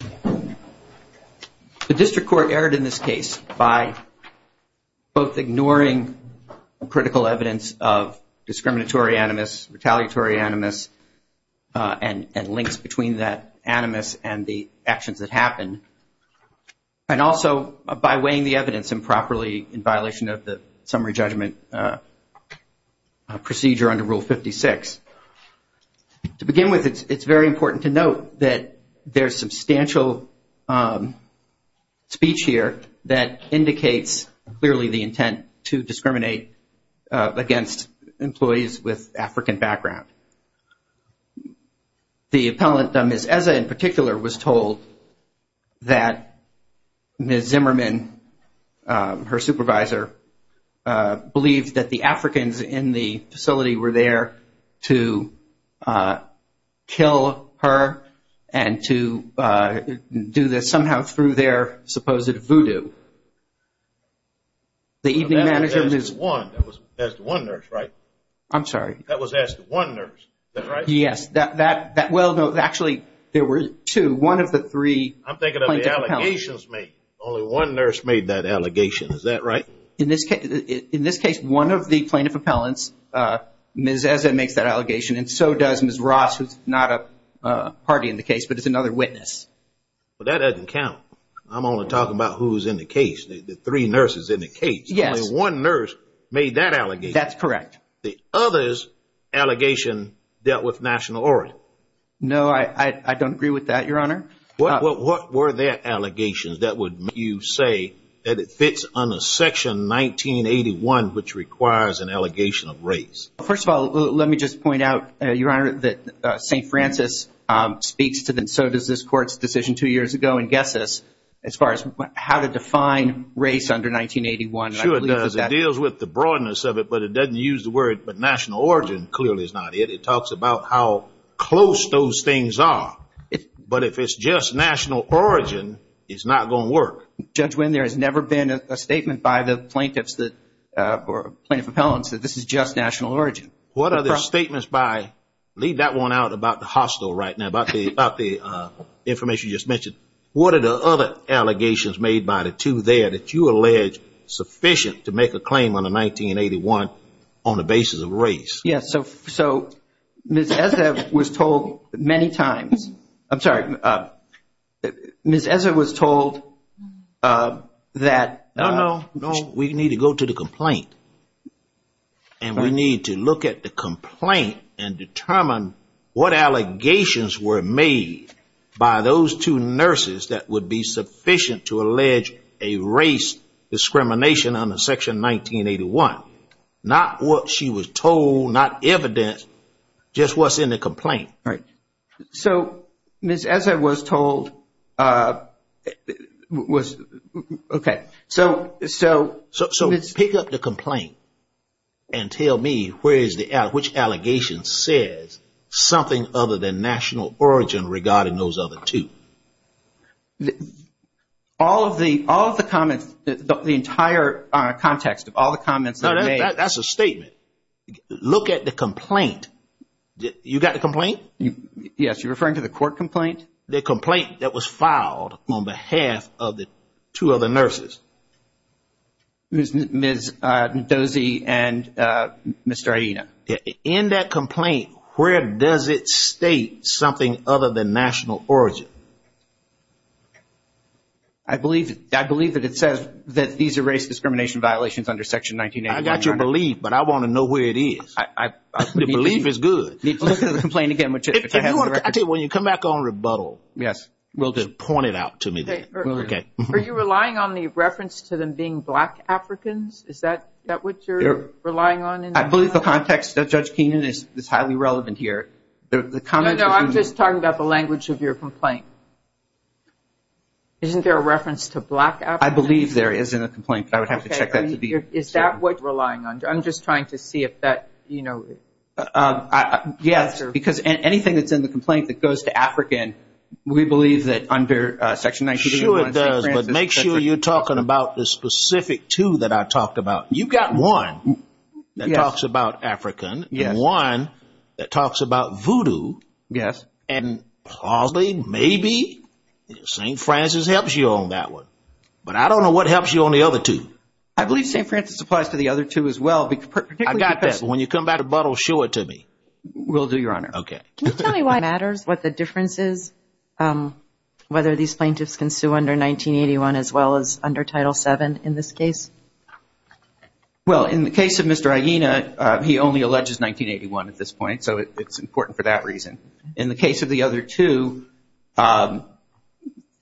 The District Court erred in this case by both ignoring critical evidence of discriminatory animus, retaliatory animus, and links between that animus and the actions that happened, and also by weighing the evidence improperly in violation of the summary judgment procedure under Rule 56. To begin with, it's very important to note that there's substantial speech here that indicates clearly the intent to discriminate against employees with African background. The appellant, Ms. Eze in particular, was told that Ms. Zimmerman, her supervisor, believed that the Africans in the facility were there to kill her and to do this somehow through their supposed voodoo. The evening manager was one. That was as one nurse, right? I'm sorry. That was as one nurse, is that right? Yes, that well, no, actually, there were two. One of the three plaintiff appellants. I'm thinking of the allegations made. Only one nurse made that allegation, is that right? In this case, one of the plaintiff appellants, Ms. Eze, makes that allegation, and so does Ms. Ross, who's not a party in the case, but is another witness. Well, that doesn't count. I'm only talking about who's in the case, the three nurses in the case. Yes. Only one nurse made that allegation. That's correct. The other's allegation dealt with national origin. No, I don't agree with that, Your Honor. What were their allegations that would make you say that it fits under Section 1981, which requires an allegation of race? First of all, let me just point out, Your Honor, that St. Francis speaks to the so does this court's decision two years ago and guesses as far as how to define race under 1981. Sure does. It deals with the broadness of it, but it doesn't use the word, but national origin clearly is not it. It talks about how close those things are, but if it's just national origin, it's not going to work. Judge Winn, there has never been a statement by the plaintiffs that, or plaintiff appellants, that this is just national origin. What are the statements by, leave that one out about the hostel right now, about the information you just mentioned. What are the other allegations made by the two there that you allege sufficient to make a claim under 1981 on the basis of race? Yes, so Ms. Ezev was told many times, I'm sorry, Ms. Ezev was told that... No, no, no, we need to go to the complaint, and we need to look at the complaint and determine what allegations were made by those two nurses that would be sufficient to allege a race discrimination under Section 1981. Not what she was told, not evidence, just what's in the complaint. Right. So, Ms. Ezev was told, okay, so... So pick up the complaint and tell me which allegation says something other than national origin regarding those other two. All of the comments, the entire context of all the comments that are made... That's a statement. Look at the complaint. You got the complaint? Yes, you're referring to the court complaint? The complaint that was filed on behalf of the two other nurses. Ms. Dozie and Mr. Aina. In that complaint, where does it state something other than national origin? I believe that it says that these are race discrimination violations under Section 1981. I got your belief, but I want to know where it is. The belief is good. When you come back on rebuttal, we'll just point it out to me then. Are you relying on the reference to them being black Africans? Is that what you're relying on? I believe the context of Judge Keenan is highly relevant here. No, I'm just talking about the language of your complaint. Isn't there a reference to black Africans? I believe there is in the complaint, but I would have to check that to be certain. Is that what you're relying on? I'm just trying to see if that, you know... Yes, because anything that's in the complaint that goes to African, we believe that under Section 1981... Sure it does, but make sure you're talking about the specific two that I talked about. You've got one that talks about African, and one that talks about voodoo, and probably, maybe, St. Francis helps you on that one. But I don't know what helps you on the other two. I believe St. Francis applies to the other two as well. I've got this. When you come back to rebuttal, show it to me. Will do, Your Honor. Can you tell me why it matters, what the difference is, whether these plaintiffs can sue under 1981 as well as under Title VII in this case? Well, in the case of Mr. Aina, he only alleges 1981 at this point, so it's important for that reason. In the case of the other two,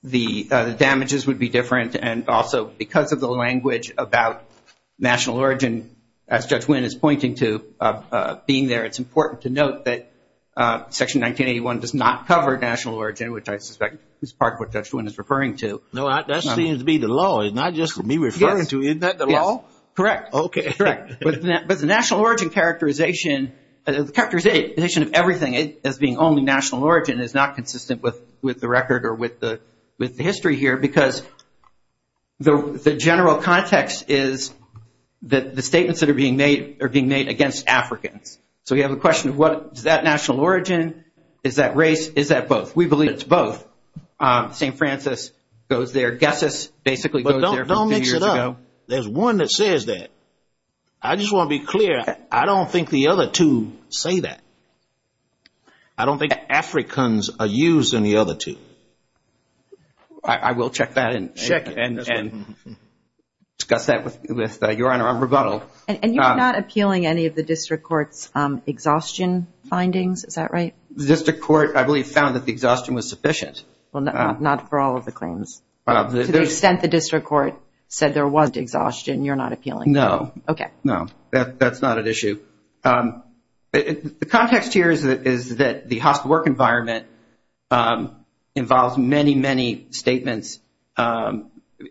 the damages would be different, and also because of the language about national origin, as Judge Winn is pointing to, being there, it's important to note that Section 1981 does not cover national origin, which I suspect is part of what Judge Winn is referring to. No, that seems to be the law. It's not just me referring to it. Isn't that the law? Correct. Okay. Correct. But the national origin characterization, the characterization of everything as being only national origin is not consistent with the record or with the history here, because the general context is that the statements that are being made are being made against Africans. So we have a question of what is that national origin? Is that race? Is that both? We believe it's both. St. Francis goes there. Guesses basically goes there from a few years ago. But don't mix it up. There's one that says that. I just want to be clear. I don't think the other two say that. I don't think Africans are used in the other two. I will check that and discuss that with Your Honor on rebuttal. And you're not appealing any of the District Court's exhaustion findings, is that right? The District Court, I believe, found that the exhaustion was sufficient. Well, not for all of the claims. To the extent the District Court said there was exhaustion, you're not appealing. No. Okay. No, that's not an issue. The context here is that the hospital work environment involves many, many statements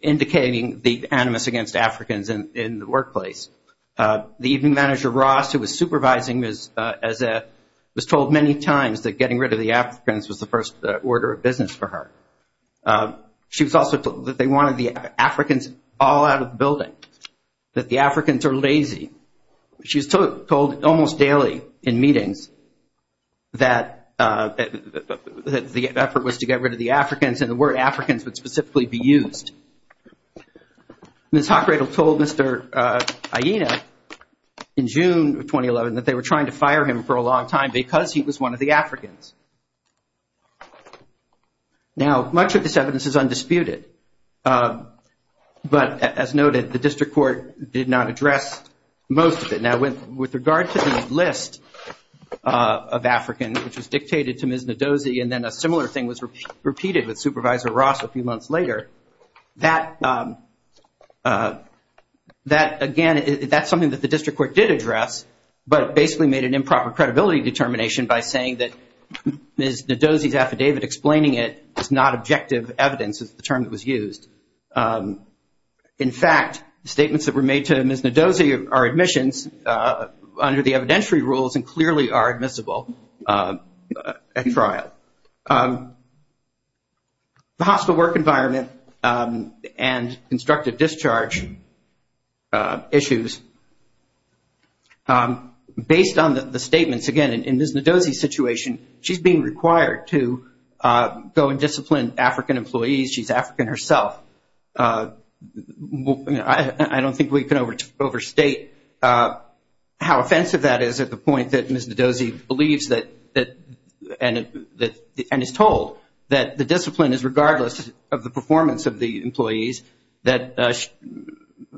indicating the animus against Africans in the workplace. The evening manager, Ross, who was supervising, was told many times that getting rid of the Africans was the first order of business for her. She was also told that they wanted the Africans all out of the building, that the Africans are lazy. She was told almost daily in meetings that the effort was to get rid of the Africans and the word Africans would specifically be used. Ms. Hockradle told Mr. Aina in June of 2011 that they were trying to fire him for a long time because he was one of the Africans. Now, much of this evidence is undisputed. But as noted, the District Court did not address most of it. Now, with regard to the list of Africans, which was dictated to Ms. Ndozi, and then a similar thing was repeated with Supervisor Ross a few months later, that, again, that's something that the District Court did address, but basically made an improper credibility determination by saying that Ms. Ndozi's affidavit explaining it is not objective evidence, is the term that was used. In fact, statements that were made to Ms. Ndozi are admissions under the evidentiary rules and clearly are admissible at trial. The hospital work environment and constructive discharge issues, based on the statements, again, in Ms. Ndozi's situation, she's being required to go and discipline African employees. She's African herself. I don't think we can overstate how offensive that is at the point that Ms. Ndozi believes and is told that the discipline is regardless of the performance of the employees, that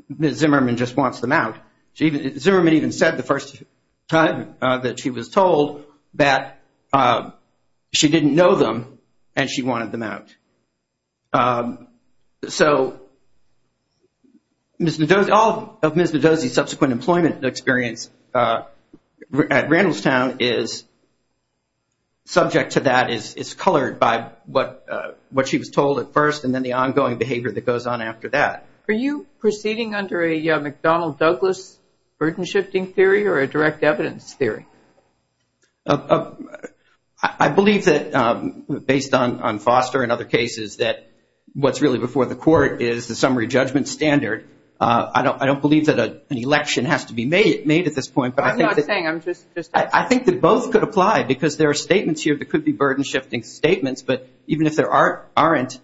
Ms. Zimmerman just wants them out. Zimmerman even said the first time that she was told that she didn't know them and she wanted them out. So all of Ms. Ndozi's subsequent employment experience at Randallstown is subject to that, is colored by what she was told at first and then the ongoing behavior that goes on after that. Are you proceeding under a McDonnell-Douglas burden-shifting theory or a direct evidence theory? I believe that, based on Foster and other cases, that what's really before the court is the summary judgment standard. I don't believe that an election has to be made at this point. I'm not saying, I'm just asking. I think that both could apply because there are statements here that could be burden-shifting statements, but even if there aren't,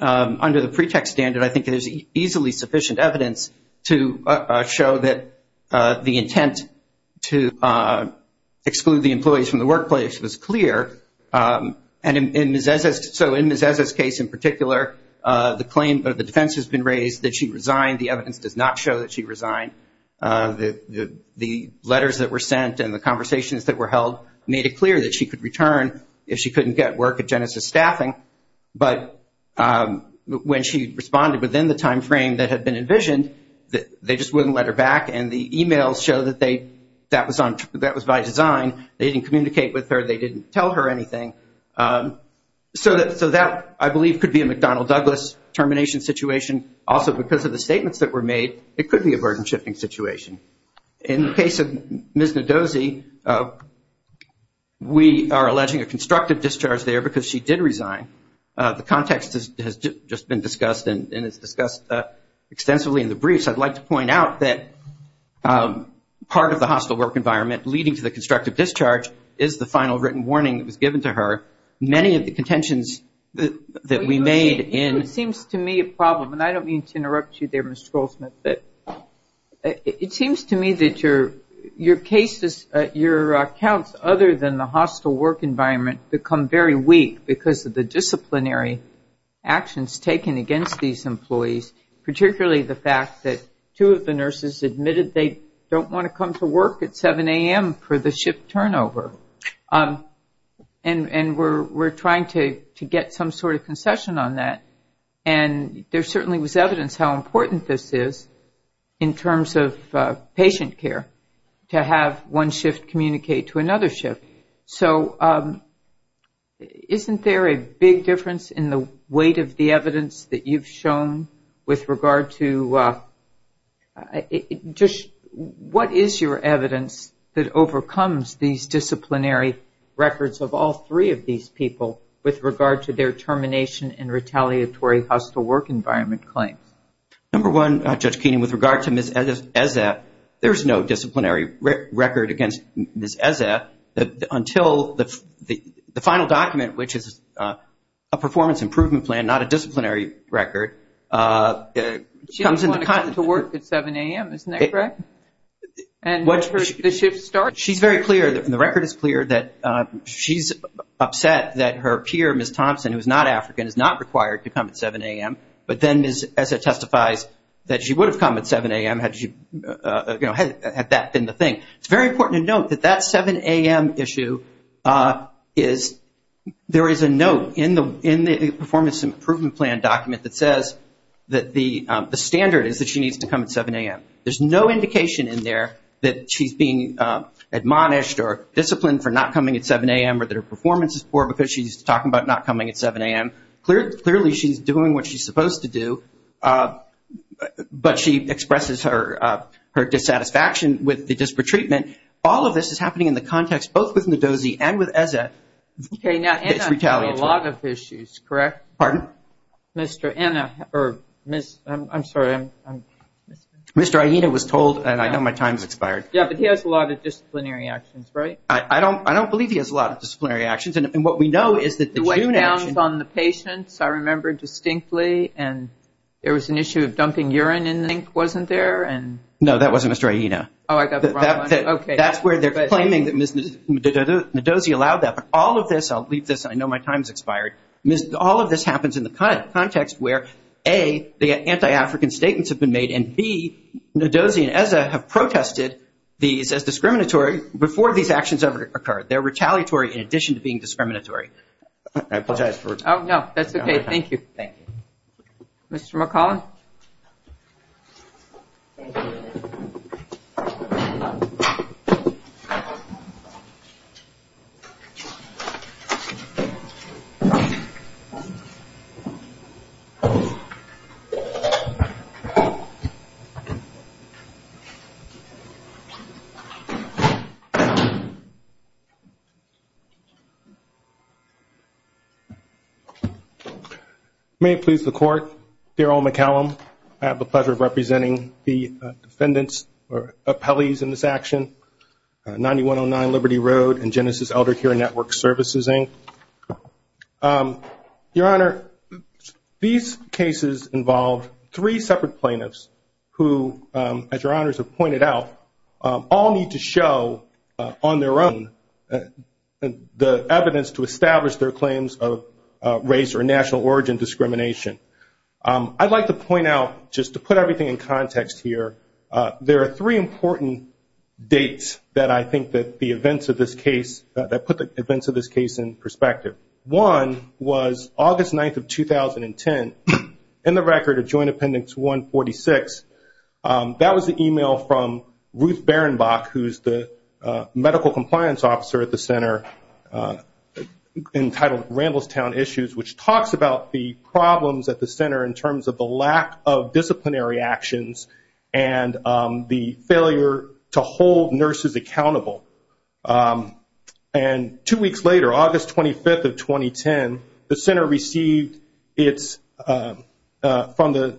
under the pretext standard, I think there's easily sufficient evidence to show that the intent to exclude the employees from the workplace was clear. And so in Ms. Eze's case in particular, the claim of the defense has been raised that she resigned. The evidence does not show that she resigned. The letters that were sent and the conversations that were held made it clear that she could return if she couldn't get work at Genesis Staffing, but when she responded within the timeframe that had been envisioned, they just wouldn't let her back and the emails show that that was by design. They didn't communicate with her, they didn't tell her anything. So that, I believe, could be a McDonnell-Douglas termination situation. Also, because of the statements that were made, it could be a burden-shifting situation. In the case of Ms. Ndozi, we are alleging a constructive discharge there because she did resign. The context has just been discussed and is discussed extensively in the briefs. I'd like to point out that part of the hostile work environment leading to the constructive discharge is the final written warning that was given to her. Many of the contentions that we made in... I don't mean to interrupt you there, Ms. Goldsmith, but it seems to me that your cases, your accounts other than the hostile work environment become very weak because of the disciplinary actions taken against these employees, particularly the fact that two of the nurses admitted they don't want to come to work at 7 a.m. for the shift turnover. And we're trying to get some sort of concession on that. And there certainly was evidence how important this is in terms of patient care, to have one shift communicate to another shift. So, isn't there a big difference in the weight of the evidence that you've shown with regard to... What is your evidence that overcomes these disciplinary records of all three of these people with regard to their termination and retaliatory hostile work environment claims? Number one, Judge Keenan, with regard to Ms. Ezeh, there's no disciplinary record against Ms. Ezeh until the final document, which is a performance improvement plan, not a disciplinary record. She doesn't want to come to work at 7 a.m., isn't that correct? And once the shift starts... She's very clear, and the record is clear, that she's upset that her peer, Ms. Thompson, who is not African, is not required to come at 7 a.m., but then Ms. Ezeh testifies that she would have come at 7 a.m. had that been the thing. It's very important to note that that 7 a.m. issue is... There is a note in the performance improvement plan document that says that the standard is that she needs to come at 7 a.m. There's no indication in there that she's being admonished or disciplined for not coming at 7 a.m. or that her performance is poor because she's talking about not coming at 7 a.m. Clearly, she's doing what she's supposed to do, but she expresses her dissatisfaction with the disparate treatment. All of this is happening in the context, both with Ndozi and with Ezeh, that's retaliatory. Okay, now Anna had a lot of issues, correct? Pardon? I'm sorry. Mr. Aina was told, and I know my time's expired. Yeah, but he has a lot of disciplinary actions, right? I don't believe he has a lot of disciplinary actions, and what we know is that the June action... The weight down on the patients, I remember distinctly, and there was an issue of dumping urine in the sink, wasn't there? No, that wasn't Mr. Aina. That's where they're claiming that Ms. Ndozi allowed that, but all of this, I'll leave this. I know my time's expired. All of this happens in the context where, A, the anti-African statements have been made, and B, Ndozi and Ezeh have protested these as discriminatory before these actions ever occurred. They're retaliatory in addition to being discriminatory. I apologize. Oh, no, that's okay. Thank you. Mr. McClellan? Thank you. May it please the Court, Daryl McClellan. I have the pleasure of representing the defendants or appellees in this action, 9109 Liberty Road and Genesis Eldercare Network Services, Inc. Your Honor, these cases involve three separate plaintiffs who, as Your Honors have pointed out, all need to show on their own the evidence to establish their claims of race or national origin discrimination. I'd like to point out, just to put everything in context here, there are three important dates that I think that the events of this case, that put the events of this case in perspective. One was August 9th of 2010 in the record of Joint Appendix 146. That was an email from Ruth Berenbach, who's the medical compliance officer at the center entitled Ramblestown Issues, which talks about the problems at the center in terms of the lack of disciplinary actions and the failure to hold nurses accountable. Two weeks later, August 25th of 2010, the center received from the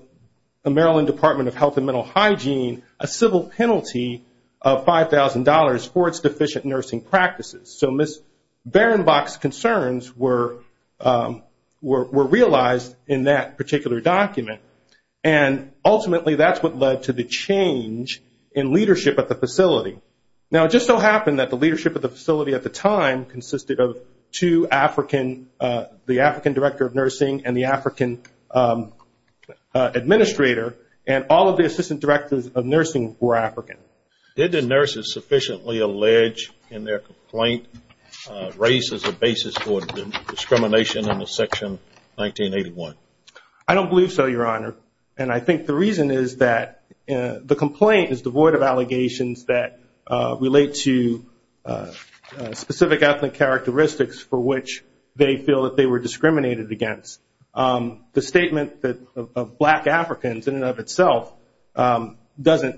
Maryland Department of Health and Mental Hygiene a civil penalty of $5,000 for its deficient nursing practices. Ms. Berenbach's concerns were realized in that particular document. Ultimately, that's what led to the change in leadership at the facility. It just so happened that the leadership at the facility at the time consisted of two African, the African Director of Nursing and the African Administrator, and all of the Assistant Directors of Nursing were African. Did the nurses sufficiently allege in their complaint race as a basis for discrimination under Section 1981? I don't believe so, Your Honor. I think the reason is that the complaint is devoid of allegations that relate to specific ethnic characteristics for which they feel that they were discriminated against. The statement of black Africans in and of itself doesn't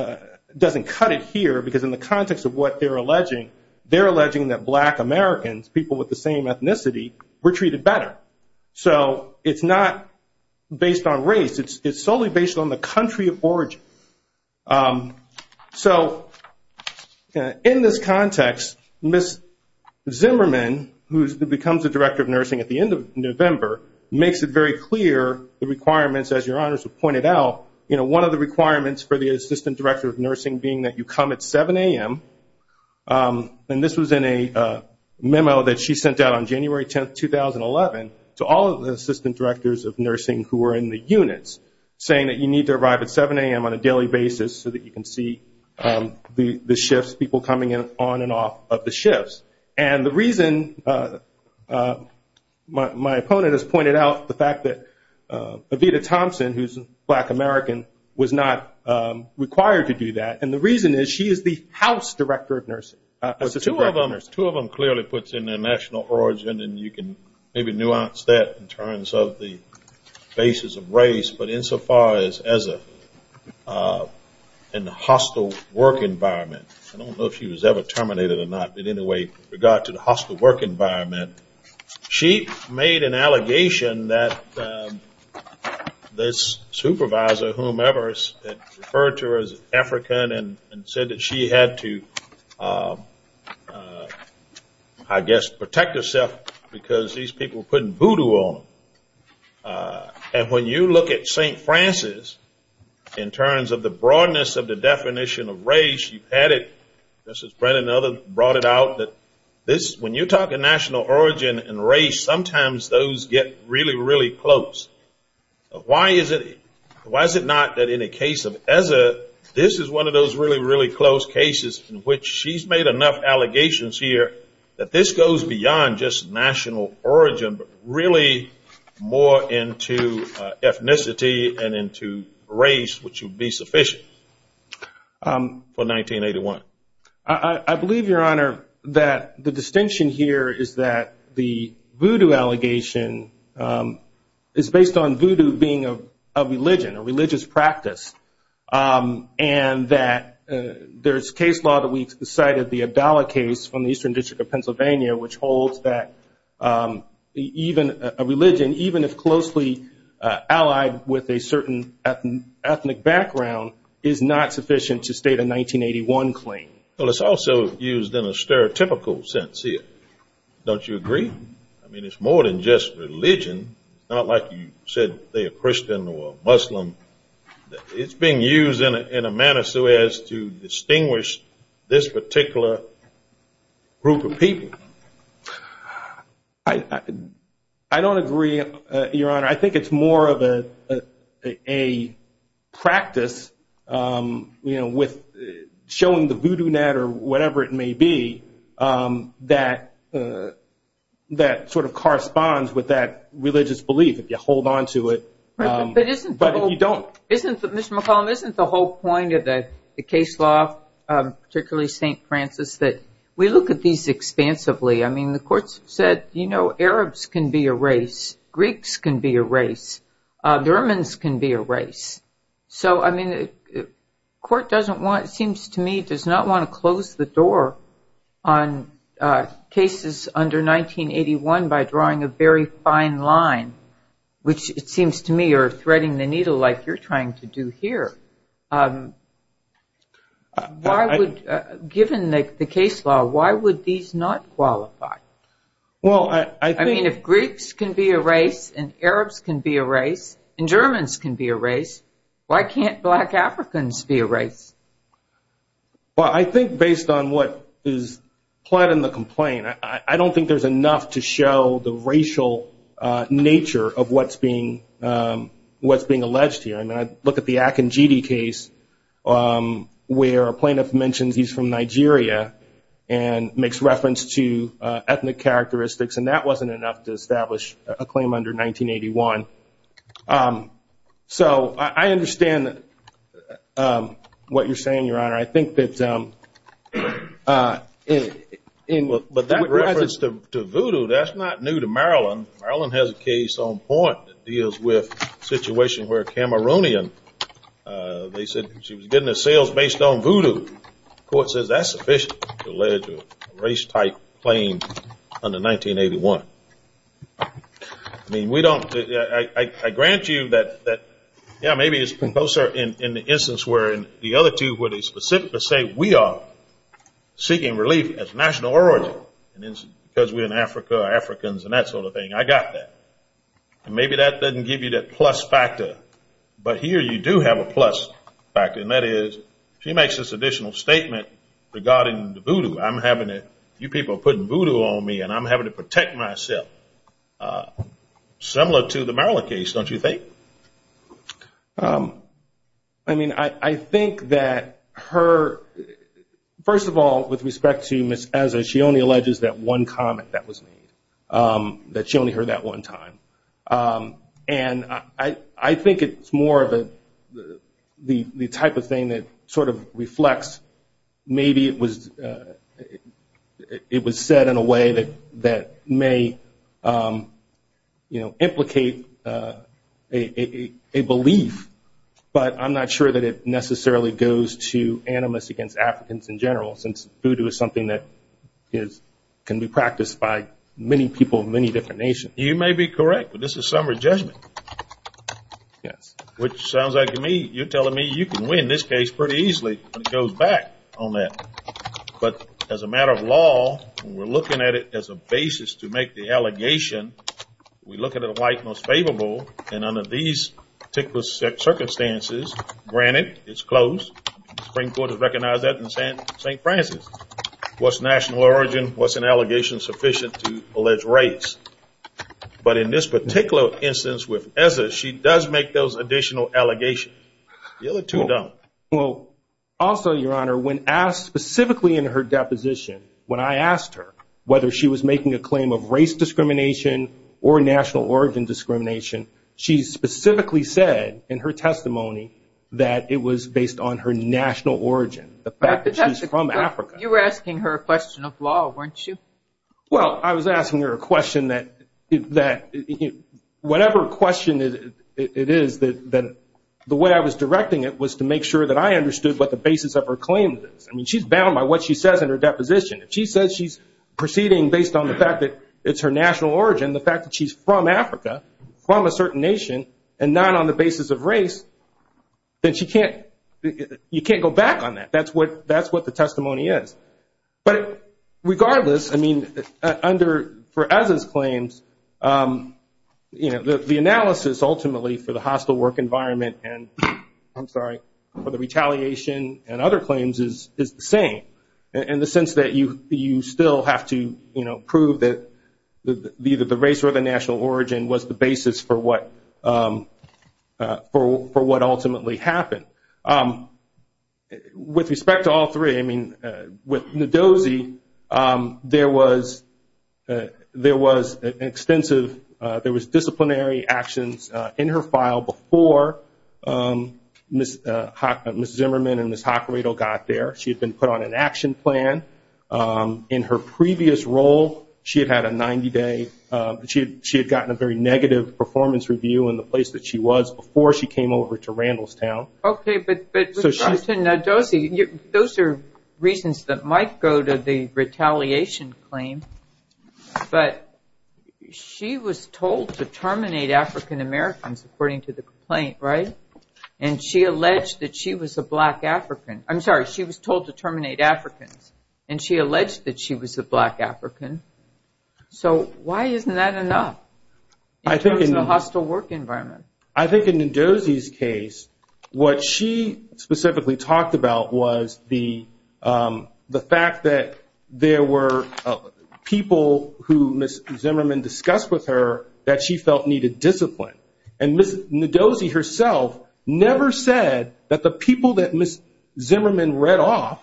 cut it here because in the context of what they're alleging, they're alleging that black Americans, people with the same ethnicity, were treated better. It's not based on race. It's solely based on the country of origin. In this context, Ms. Zimmerman, who becomes the Director of Nursing at the end of November, makes it very clear the requirements, as Your Honors have pointed out. One of the requirements for the Assistant Director of Nursing being that you come at 7 a.m. This was in a memo that she sent out on January 10, 2011 to all of the Assistant Directors of Nursing who were in the units saying that you need to arrive at 7 a.m. on a daily basis so that you can see the shifts, people coming in on and off of the shifts. The reason, my opponent has pointed out the fact that Evita Thompson, who's a black American, was not required to do that. The reason is she is the House Director of Nursing. Two of them clearly puts in their national origin and you can maybe nuance that in terms of the basis of race, but insofar as in the hostile work environment. I don't know if she was ever terminated or not, but in any way, with regard to the hostile work environment, she made an allegation that this supervisor, whomever referred to her as African and said that she had to I guess protect herself because these people were putting voodoo on them. When you look at St. Francis in terms of the broadness of the definition of race you've had it, Mrs. Brennan and others brought it out that when you talk of national origin and race, sometimes those get really, really close. Why is it not that in a case of ESA, this is one of those really, really close cases in which she's made enough allegations here that this goes beyond just national origin, but really more into ethnicity and into race which would be sufficient for 1981? I believe, Your Honor, that the distinction here is that the voodoo allegation is based on voodoo being a religion, a religious practice and that there's case law that we've cited, the Abdallah case from the Eastern District of Pennsylvania which holds that even a religion, even if closely allied with a certain ethnic background is not sufficient to state a 1981 claim. Well, it's also used in a stereotypical sense here. Don't you agree? I mean, it's more than just religion, not like you said they're Christian or Muslim. It's being used in a manner so as to group a people. I don't agree, Your Honor. I think it's more of a practice with showing the voodoo net or whatever it may be that sort of corresponds with that religious belief if you hold on to it. But if you don't. Mr. McCollum, isn't the whole point of the case law particularly St. Francis that we look at these expansively. I mean, the court said, you know, Arabs can be a race. Greeks can be a race. Germans can be a race. So, I mean, the court doesn't want, it seems to me does not want to close the door on cases under 1981 by drawing a very fine line which it seems to me are threading the needle like you're trying to do here. Why would given the case law, why would these not qualify? I mean, if Greeks can be a race and Arabs can be a race and Germans can be a race, why can't black Africans be a race? Well, I think based on what is plot in the complaint I don't think there's enough to show the racial nature of what's being alleged here. I mean, I look at the Akinjidi case where a plaintiff mentions he's from Nigeria and makes reference to ethnic characteristics and that wasn't enough to establish a claim under 1981. So, I understand what you're saying, Your Honor. I think that to Voodoo, that's not new to Maryland. Maryland has a case on point that deals with a situation where Cameroonian, they said she was getting her sales based on Voodoo. The court says that's sufficient to allege a race type claim under 1981. I mean, we don't, I grant you that maybe it's closer in the instance where the other two where they specifically say we are seeking relief as a national origin because we're in Africa, Africans and that sort of thing. I got that. Maybe that doesn't give you that plus factor but here you do have a plus factor and that is she makes this additional statement regarding the Voodoo. I'm having it, you people are putting Voodoo on me and I'm having to protect myself. Similar to the Maryland case, don't you think? I mean, I think that her first of all, with respect to Ms. Ezer, she only alleges that one comment that was made. That she only heard that one time. I think it's more of the type of thing that sort of reflects maybe it was said in a way that may implicate a belief but I'm not sure that it necessarily goes to animus against Africans in general since Voodoo is something that can be practiced by many people in many different nations. You may be correct but this is summary judgment. Yes. Which sounds like to me, you're telling me you can win this case pretty easily when it goes back on that but as a matter of law we're looking at it as a basis to make the allegation we look at it like most favorable and under these circumstances, granted it's closed the Supreme Court has recognized that in St. Francis what's national origin, what's an allegation sufficient to allege race but in this particular instance with Ezer, she does make those additional allegations. The other two don't. Also, Your Honor, when asked specifically in her deposition, when I asked her whether she was making a claim of race discrimination or national origin discrimination, she specifically said in her testimony that it was based on her national origin, the fact that she's from Africa. You were asking her a question of law, weren't you? Well, I was asking her a question that whatever question it is the way I was directing it was to make sure that I understood what the basis of her claim is. She's bound by what she says in her deposition. If she says she's proceeding based on the fact that it's her national origin, the fact that she's from Africa from a certain nation and not on the basis of race then she can't go back on that. That's what the testimony is. Regardless, I mean for Ezer's claims the analysis ultimately for the hostile work environment and, I'm sorry, for the retaliation and other claims is the same. In the sense that you still have to prove that either the race or the national origin was the basis for what ultimately happened. With respect to all three with Ndozi there was an extensive there was disciplinary actions in her file before Ms. Zimmerman and Ms. Hacredo got there. In her previous role she had gotten a very negative performance review in the place that she was before she came over to Randallstown. Those are reasons that might go to the retaliation claim but she was told to terminate African Americans according to the complaint and she alleged that she was a black African I'm sorry, she was told to terminate Africans and she alleged that she was a black African so why isn't that enough in the hostile work environment? I think in Ndozi's case what she specifically talked about was the fact that there were people who Ms. Zimmerman discussed with her that she felt needed discipline and Ms. Ndozi herself never said that the people that Ms. Zimmerman read off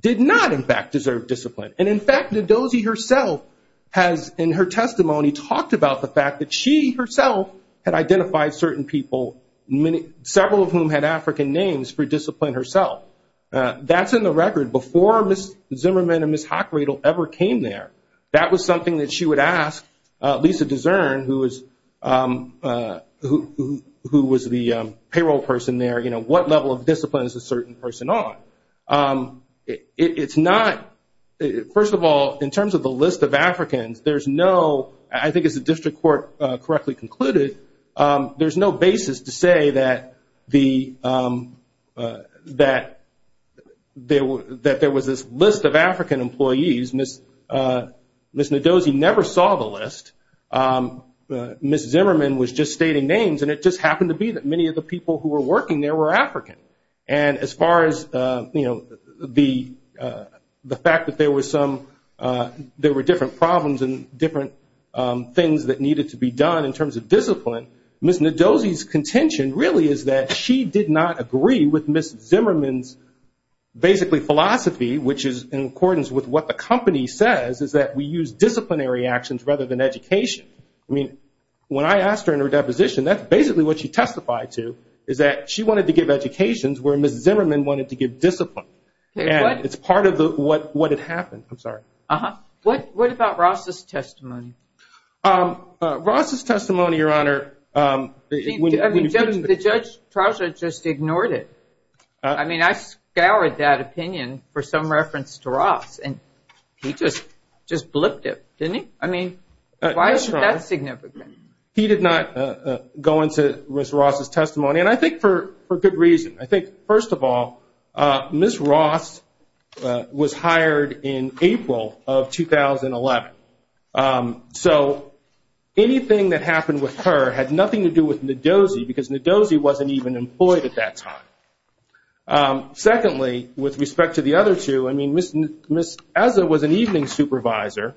did not in fact deserve discipline and in fact Ndozi herself has in her testimony talked about the fact that she herself had identified certain people several of whom had African names for discipline herself. That's in the record before Ms. Zimmerman and Ms. Hockradle ever came there. That was something that she would ask Lisa Desern who was the payroll person there what level of discipline is a certain person on? First of all in terms of the list of Africans I think as the district court correctly concluded there's no basis to say that there was this list of African employees Ms. Ndozi never saw the list Ms. Zimmerman was just stating names and it just happened to be that many of the people who were working there were African and as far as the fact that there were different problems and different things that needed to be done in terms of discipline Ms. Ndozi's contention really is that she did not agree with Ms. Zimmerman's basically philosophy which is in accordance with what the company says is that we use disciplinary actions rather than education. When I asked her in her deposition that's basically what she testified to is that she wanted to give education where Ms. Zimmerman wanted to give discipline and it's part of what had happened. What about Ross's testimony? Ross's testimony The judge just ignored it I scoured that opinion for some reference to Ross and he just blipped it Why is that significant? He did not go into Ms. Ross's testimony and I think for good reason First of all, Ms. Ross was hired in April of 2011 so anything that happened with her had nothing to do with Ndozi because Ndozi wasn't even employed at that time Secondly, with respect to the other two Ms. Eza was an evening supervisor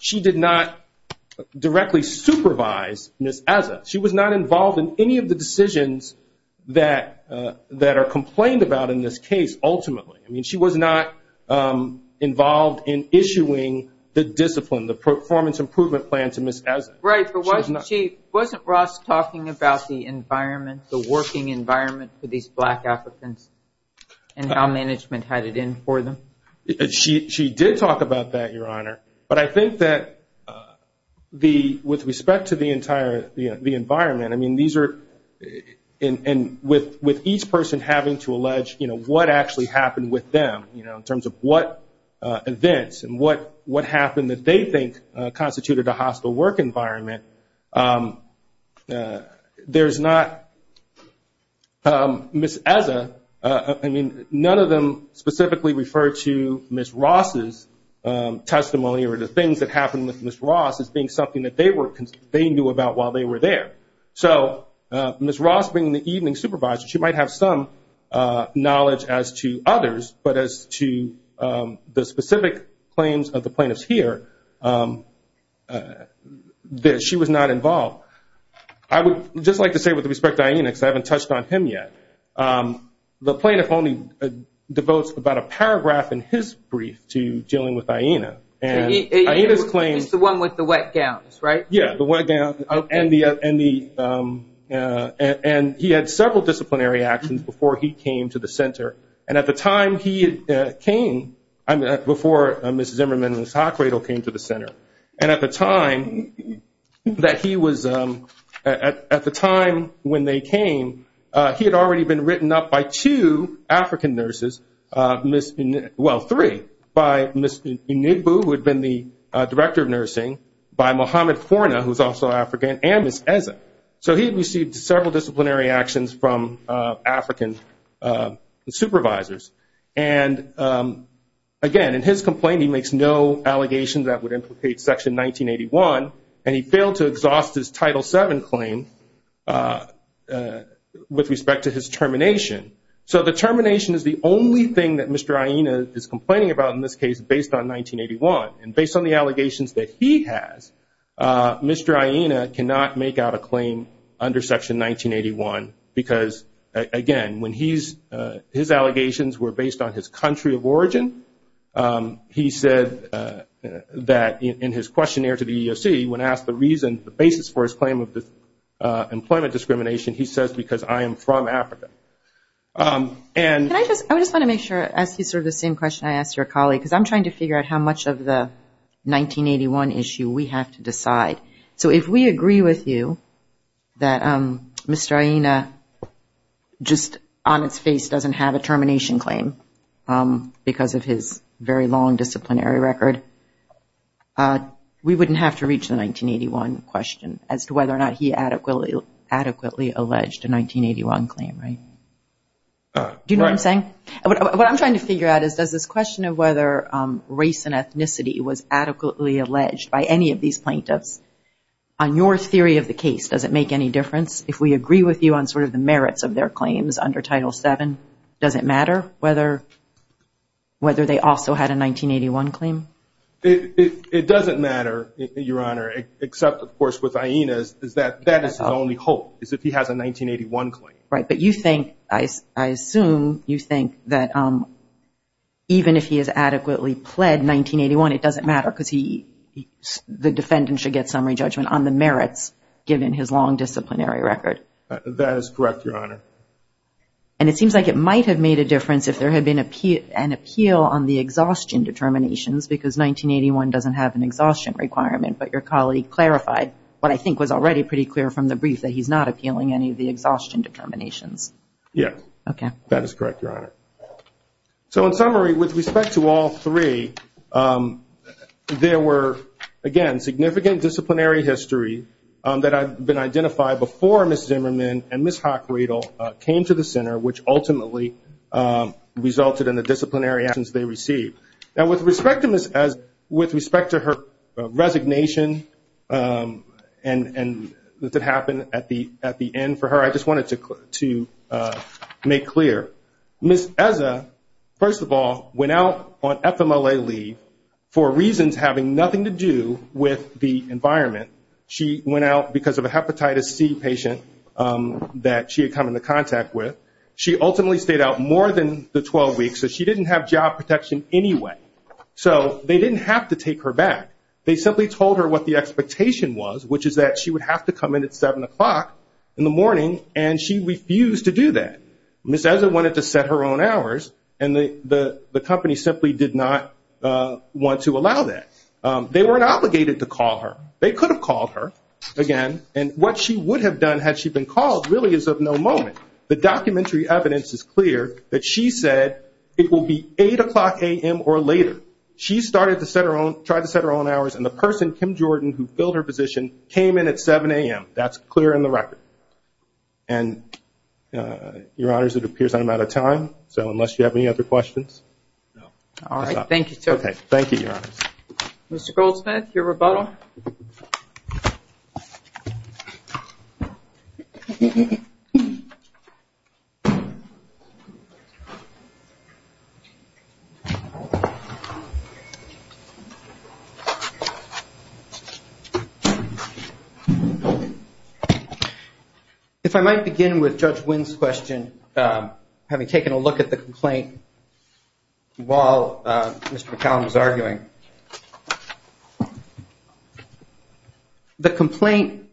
she did not directly supervise Ms. Eza she was not involved in any of the decisions that are complained about in this case ultimately She was not involved in issuing the performance improvement plan to Ms. Eza Wasn't Ross talking about the working environment for these black applicants and how management had it in for them? She did talk about that but I think that with respect to the environment with each person having to allege what actually happened with them in terms of what events and what happened that they think constituted a hostile work environment Ms. Eza none of them specifically referred to Ms. Ross's testimony or the things that happened with Ms. Ross as being something they knew about while they were there Ms. Ross being the evening supervisor she might have some knowledge as to others but as to the specific claims of the plaintiffs here she was not involved I would just like to say with respect to Iena because I haven't touched on him yet the plaintiff only devotes about a paragraph in his brief to dealing with Iena It's the one with the wet gowns, right? Yeah, the wet gown and he had several disciplinary actions before he came to the center before Ms. Zimmerman and Ms. Hockradle came to the center and at the time when they came he had already been written up by two African nurses well, three by Ms. Enigbu, who had been the director of nursing by Mohamed Forna, who was also African and Ms. Eza so he had received several disciplinary actions from African supervisors and again, in his complaint he makes no allegations that would implicate Section 1981 and he failed to exhaust his Title VII claim with respect to his termination so the termination is the only thing that Mr. Iena is complaining about in this case based on 1981 and based on the allegations that he has Mr. Iena cannot make out a claim under Section 1981 because, again, his allegations were based on his country of origin he said that in his questionnaire to the EEOC, when asked the reason, the basis for his claim of employment discrimination he says, because I am from Africa I just want to make sure I ask you the same question I asked your colleague, because I'm trying to figure out how much of the 1981 issue we have to decide so if we agree with you that Mr. Iena just on its face doesn't have a termination claim because of his very long disciplinary record we wouldn't have to reach the 1981 question as to whether or not he adequately alleged a 1981 claim, right? Do you know what I'm saying? What I'm trying to figure out is does this question of whether race and ethnicity was adequately alleged by any of these plaintiffs on your theory of the case, does it make any difference if we agree with you on sort of the merits of their claims under Title VII, does it matter whether they also had a 1981 claim? It doesn't matter, Your Honor except, of course, with Iena's, that is his only hope is if he has a 1981 claim. I assume you think that even if he has adequately pled 1981 it doesn't matter because the defendant should get summary judgment on the merits given his long disciplinary record. That is correct, Your Honor. And it seems like it might have made a difference if there had been an appeal on the exhaustion determinations because 1981 doesn't have an exhaustion requirement but your colleague clarified what I think was already pretty clear from the brief that he's not appealing any of the exhaustion determinations. Yes. That is correct, Your Honor. So in summary, with respect to all three there were again, significant disciplinary history that had been identified before Ms. Zimmerman and Ms. Hockradle came to the center which ultimately resulted in the disciplinary actions they received. Now with respect to her resignation that happened at the end for her, I just wanted to make clear. Ms. Eza first of all, went out on FMLA leave for reasons having nothing to do with the environment. She went out because of a hepatitis C patient that she had come into contact with. She ultimately stayed out more than the 12 weeks so she didn't have job protection anyway. So they didn't have to take her back. They simply told her what the expectation was, which is that she would have to come in at 7 o'clock in the morning and she refused to do that. Ms. Eza wanted to set her own hours and the company simply did not want to allow that. They weren't obligated to call her. They could have called her, again, and what she would have done had she been called really is of no moment. The documentary evidence is clear that she said it will be 8 o'clock a.m. or later. She started to try to set her own hours and the person, Kim Jordan who filled her position, came in at 7 a.m. That's clear in the record. Your Honors, it appears I'm out of time so unless you have any other questions. Thank you, Your Honors. Mr. Goldsmith, your rebuttal. If I might begin with Judge Wynn's question having taken a look at the complaint while Mr. McCallum was arguing. The complaint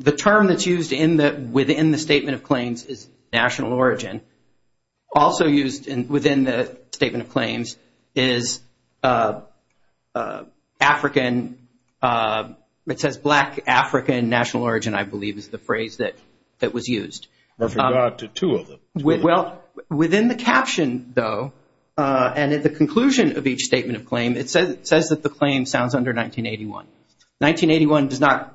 the term that's used within the Statement of Claims is national origin. Also used within the Statement of Claims is African it says black African national origin I believe is the phrase that was used. I forgot the two of them. Within the caption though and at the conclusion of each Statement of Claim it says that the claim sounds under 1981. 1981 does not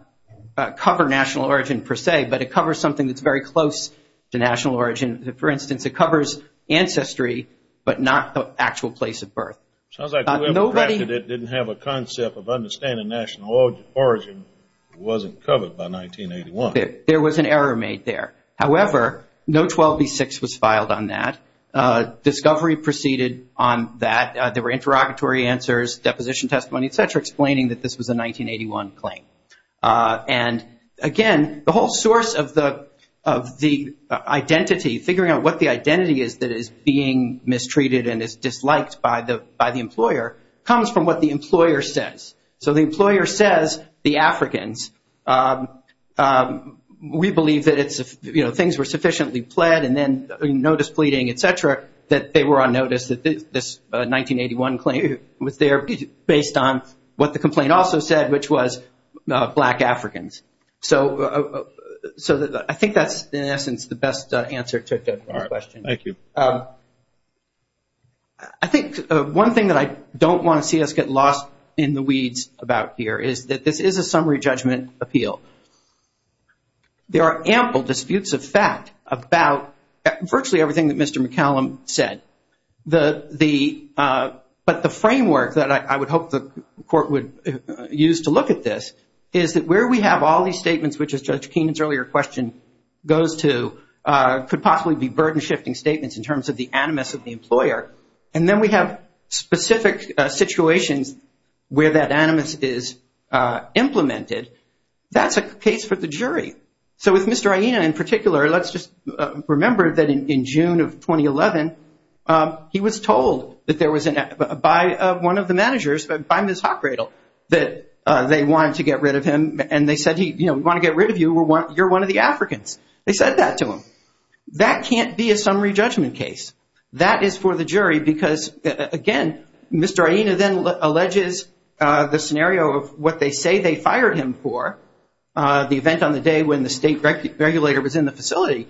cover national origin per se but it covers something that's very close to national origin. For instance, it covers ancestry but not the actual place of birth. It didn't have a concept of understanding national origin it wasn't covered by 1981. There was an error made there. However, no 12B6 was filed on that. Discovery proceeded on that. There were interrogatory answers, deposition testimony, etc. explaining that this was a 1981 claim. Again, the whole source of the identity figuring out what the identity is that is being mistreated and is disliked by the employer comes from what the employer says. The employer says the Africans we believe that things were sufficiently pled and then notice pleading, etc. that they were on notice that this 1981 claim was there based on what the complaint also said which was black Africans. I think that's in essence the best answer to the question. I think one thing that I don't want to see us get lost in the weeds about here is that this is a summary judgment appeal. There are ample disputes of fact about virtually everything that Mr. McCallum said but the framework that I would hope the court would use to look at this is that where we have all these statements which is Judge Keenan's earlier question could possibly be burden shifting statements in terms of the animus of the employer and then we have specific situations where that animus is implemented that's a case for the jury. With Mr. Aina in particular let's just remember that in June of 2011 he was told by one of the managers by Ms. Hockradle that they wanted to get rid of him and they said we want to get rid of you you're one of the Africans. They said that to him. That can't be a summary judgment case. That is for the jury because again Mr. Aina then alleges the scenario of what they say they fired him for the event on the day when the state regulator was in the facility.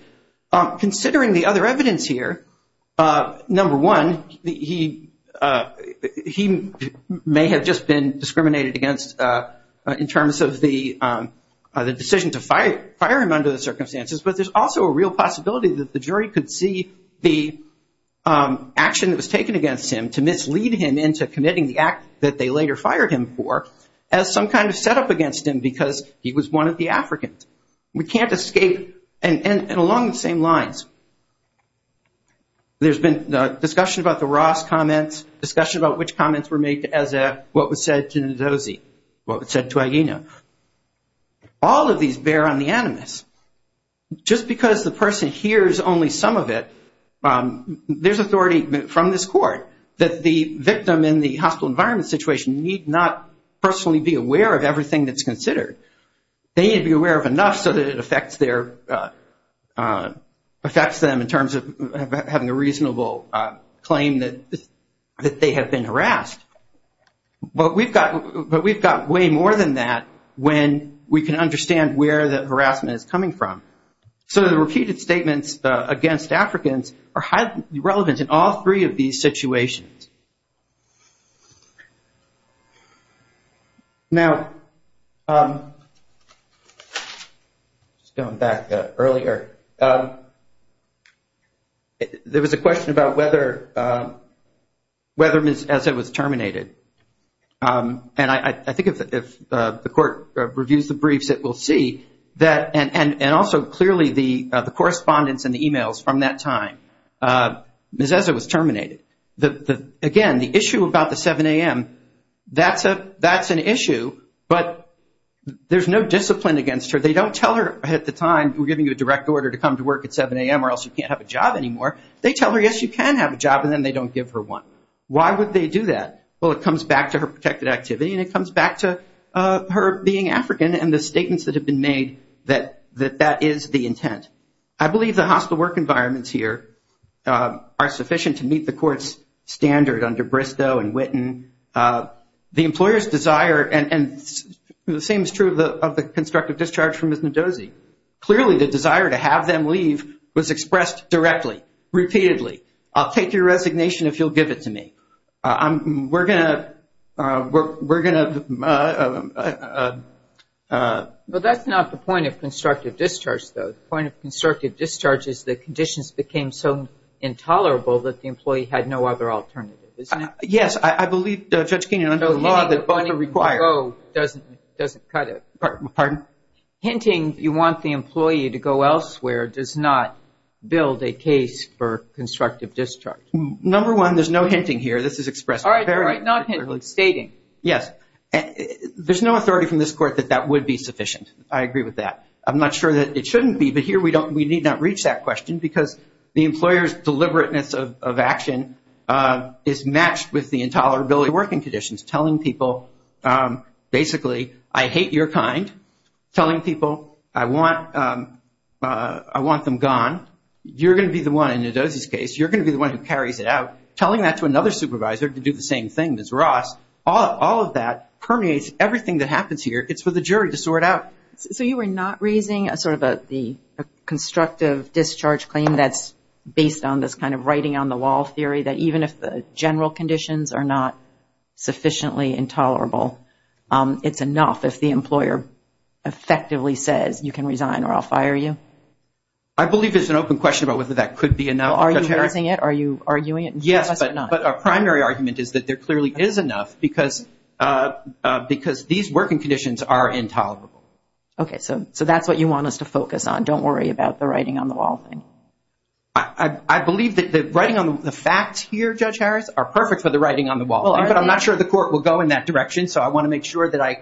Considering the other evidence here number one he may have just been discriminated against in terms of the decision to fire him under the circumstances but there's also a real possibility that the jury could see the action that was taken against him to mislead him into committing the act that they later fired him for as some kind of set up against him because he was one of the Africans. We can't escape and along the same lines there's been discussion about the Ross comments discussion about which comments were made what was said to Ndozi what was said to Aina all of these bear on the animus just because the person hears only some of it there's authority from this court that the victim in the hospital environment situation need not personally be aware of everything that's considered they need to be aware of enough so that it affects them in terms of having a reasonable claim that they have been harassed but we've got way more than that when we can understand where the harassment is coming from so the repeated statements against Africans are highly relevant in all three of these situations now going back earlier there was a question about whether whether Ms. Eze was terminated and I think if the court reviews the briefs it will see and also clearly the correspondence and the emails from that time Ms. Eze was terminated again the issue about the 7am that's an issue but there's no discipline against her they don't tell her at the time we're giving you a direct order to come to work at 7am or else you can't have a job anymore they tell her yes you can have a job and then they don't give her one why would they do that? well it comes back to her protected activity and it comes back to her being African and the statements that have been made that is the intent I believe the hostile work environments here are sufficient to meet the court's standard under Bristow and Witten the employer's desire and the same is true of the constructive discharge from Ms. Ndozi clearly the desire to have them leave was expressed directly, repeatedly I'll take your resignation if you'll give it to me but that's not the point of constructive discharge the point of constructive discharge is that conditions became so intolerable that the employee had no other alternative yes I believe Judge Keenan hinting you want the employee to go elsewhere does not build a case for constructive discharge there's no hinting here there's no authority from this court that that would be sufficient I'm not sure that it shouldn't be but here we need not reach that question because the employer's deliberateness of action is matched with the intolerability of working conditions telling people basically I hate your kind telling people I want them gone you're going to be the one in Ndozi's case you're going to be the one who carries it out telling that to another supervisor to do the same thing as Ross all of that permeates everything that happens here it's for the jury to sort out so you were not raising a constructive discharge claim that's based on this writing on the wall theory that even if the general conditions are not sufficiently intolerable it's enough if the employer effectively says you can resign or I'll fire you I believe there's an open question about whether that could be enough are you using it? our primary argument is that there clearly is enough because these working conditions are intolerable so that's what you want us to focus on don't worry about the writing on the wall I believe that the facts here are perfect for the writing on the wall but I'm not sure the court will go in that direction so I want to make sure that I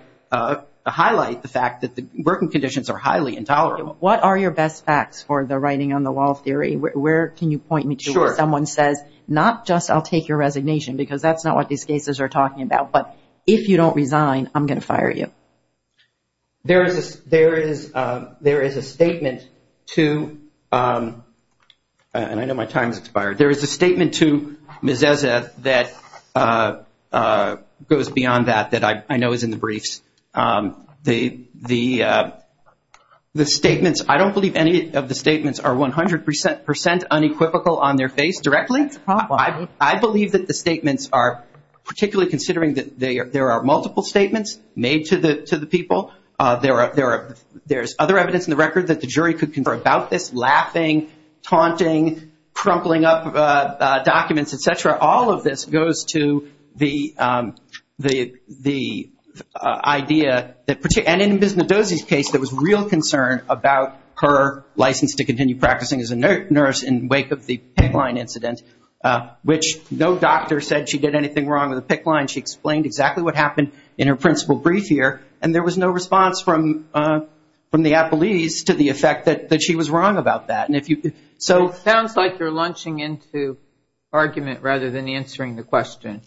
highlight the fact that the working conditions are highly intolerable what are your best facts for the writing on the wall theory where can you point me to where someone says not just I'll take your resignation because that's not what these cases are talking about but if you don't resign I'm going to fire you there is a statement to and I know my time has expired there is a statement to Ms. Ezeth that goes beyond that that I know is in the briefs the statements I don't believe any of the statements are 100% unequivocal on their face directly I believe that the statements are particularly considering that there are multiple statements made to the people there is other evidence in the record about this laughing, taunting crumpling up documents etc all of this goes to the idea and in Ms. Mendoza's case there was real concern about her license to continue practicing as a nurse in wake of the pick line incident which no doctor said she did anything wrong with the pick line she explained exactly what happened in her principal brief here and there was no response from the appellees to the effect that she was wrong about that it sounds like you are launching into argument rather than answering the question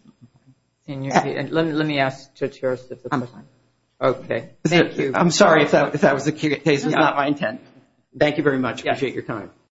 let me ask the chair I'm sorry if that was the case it was not my intent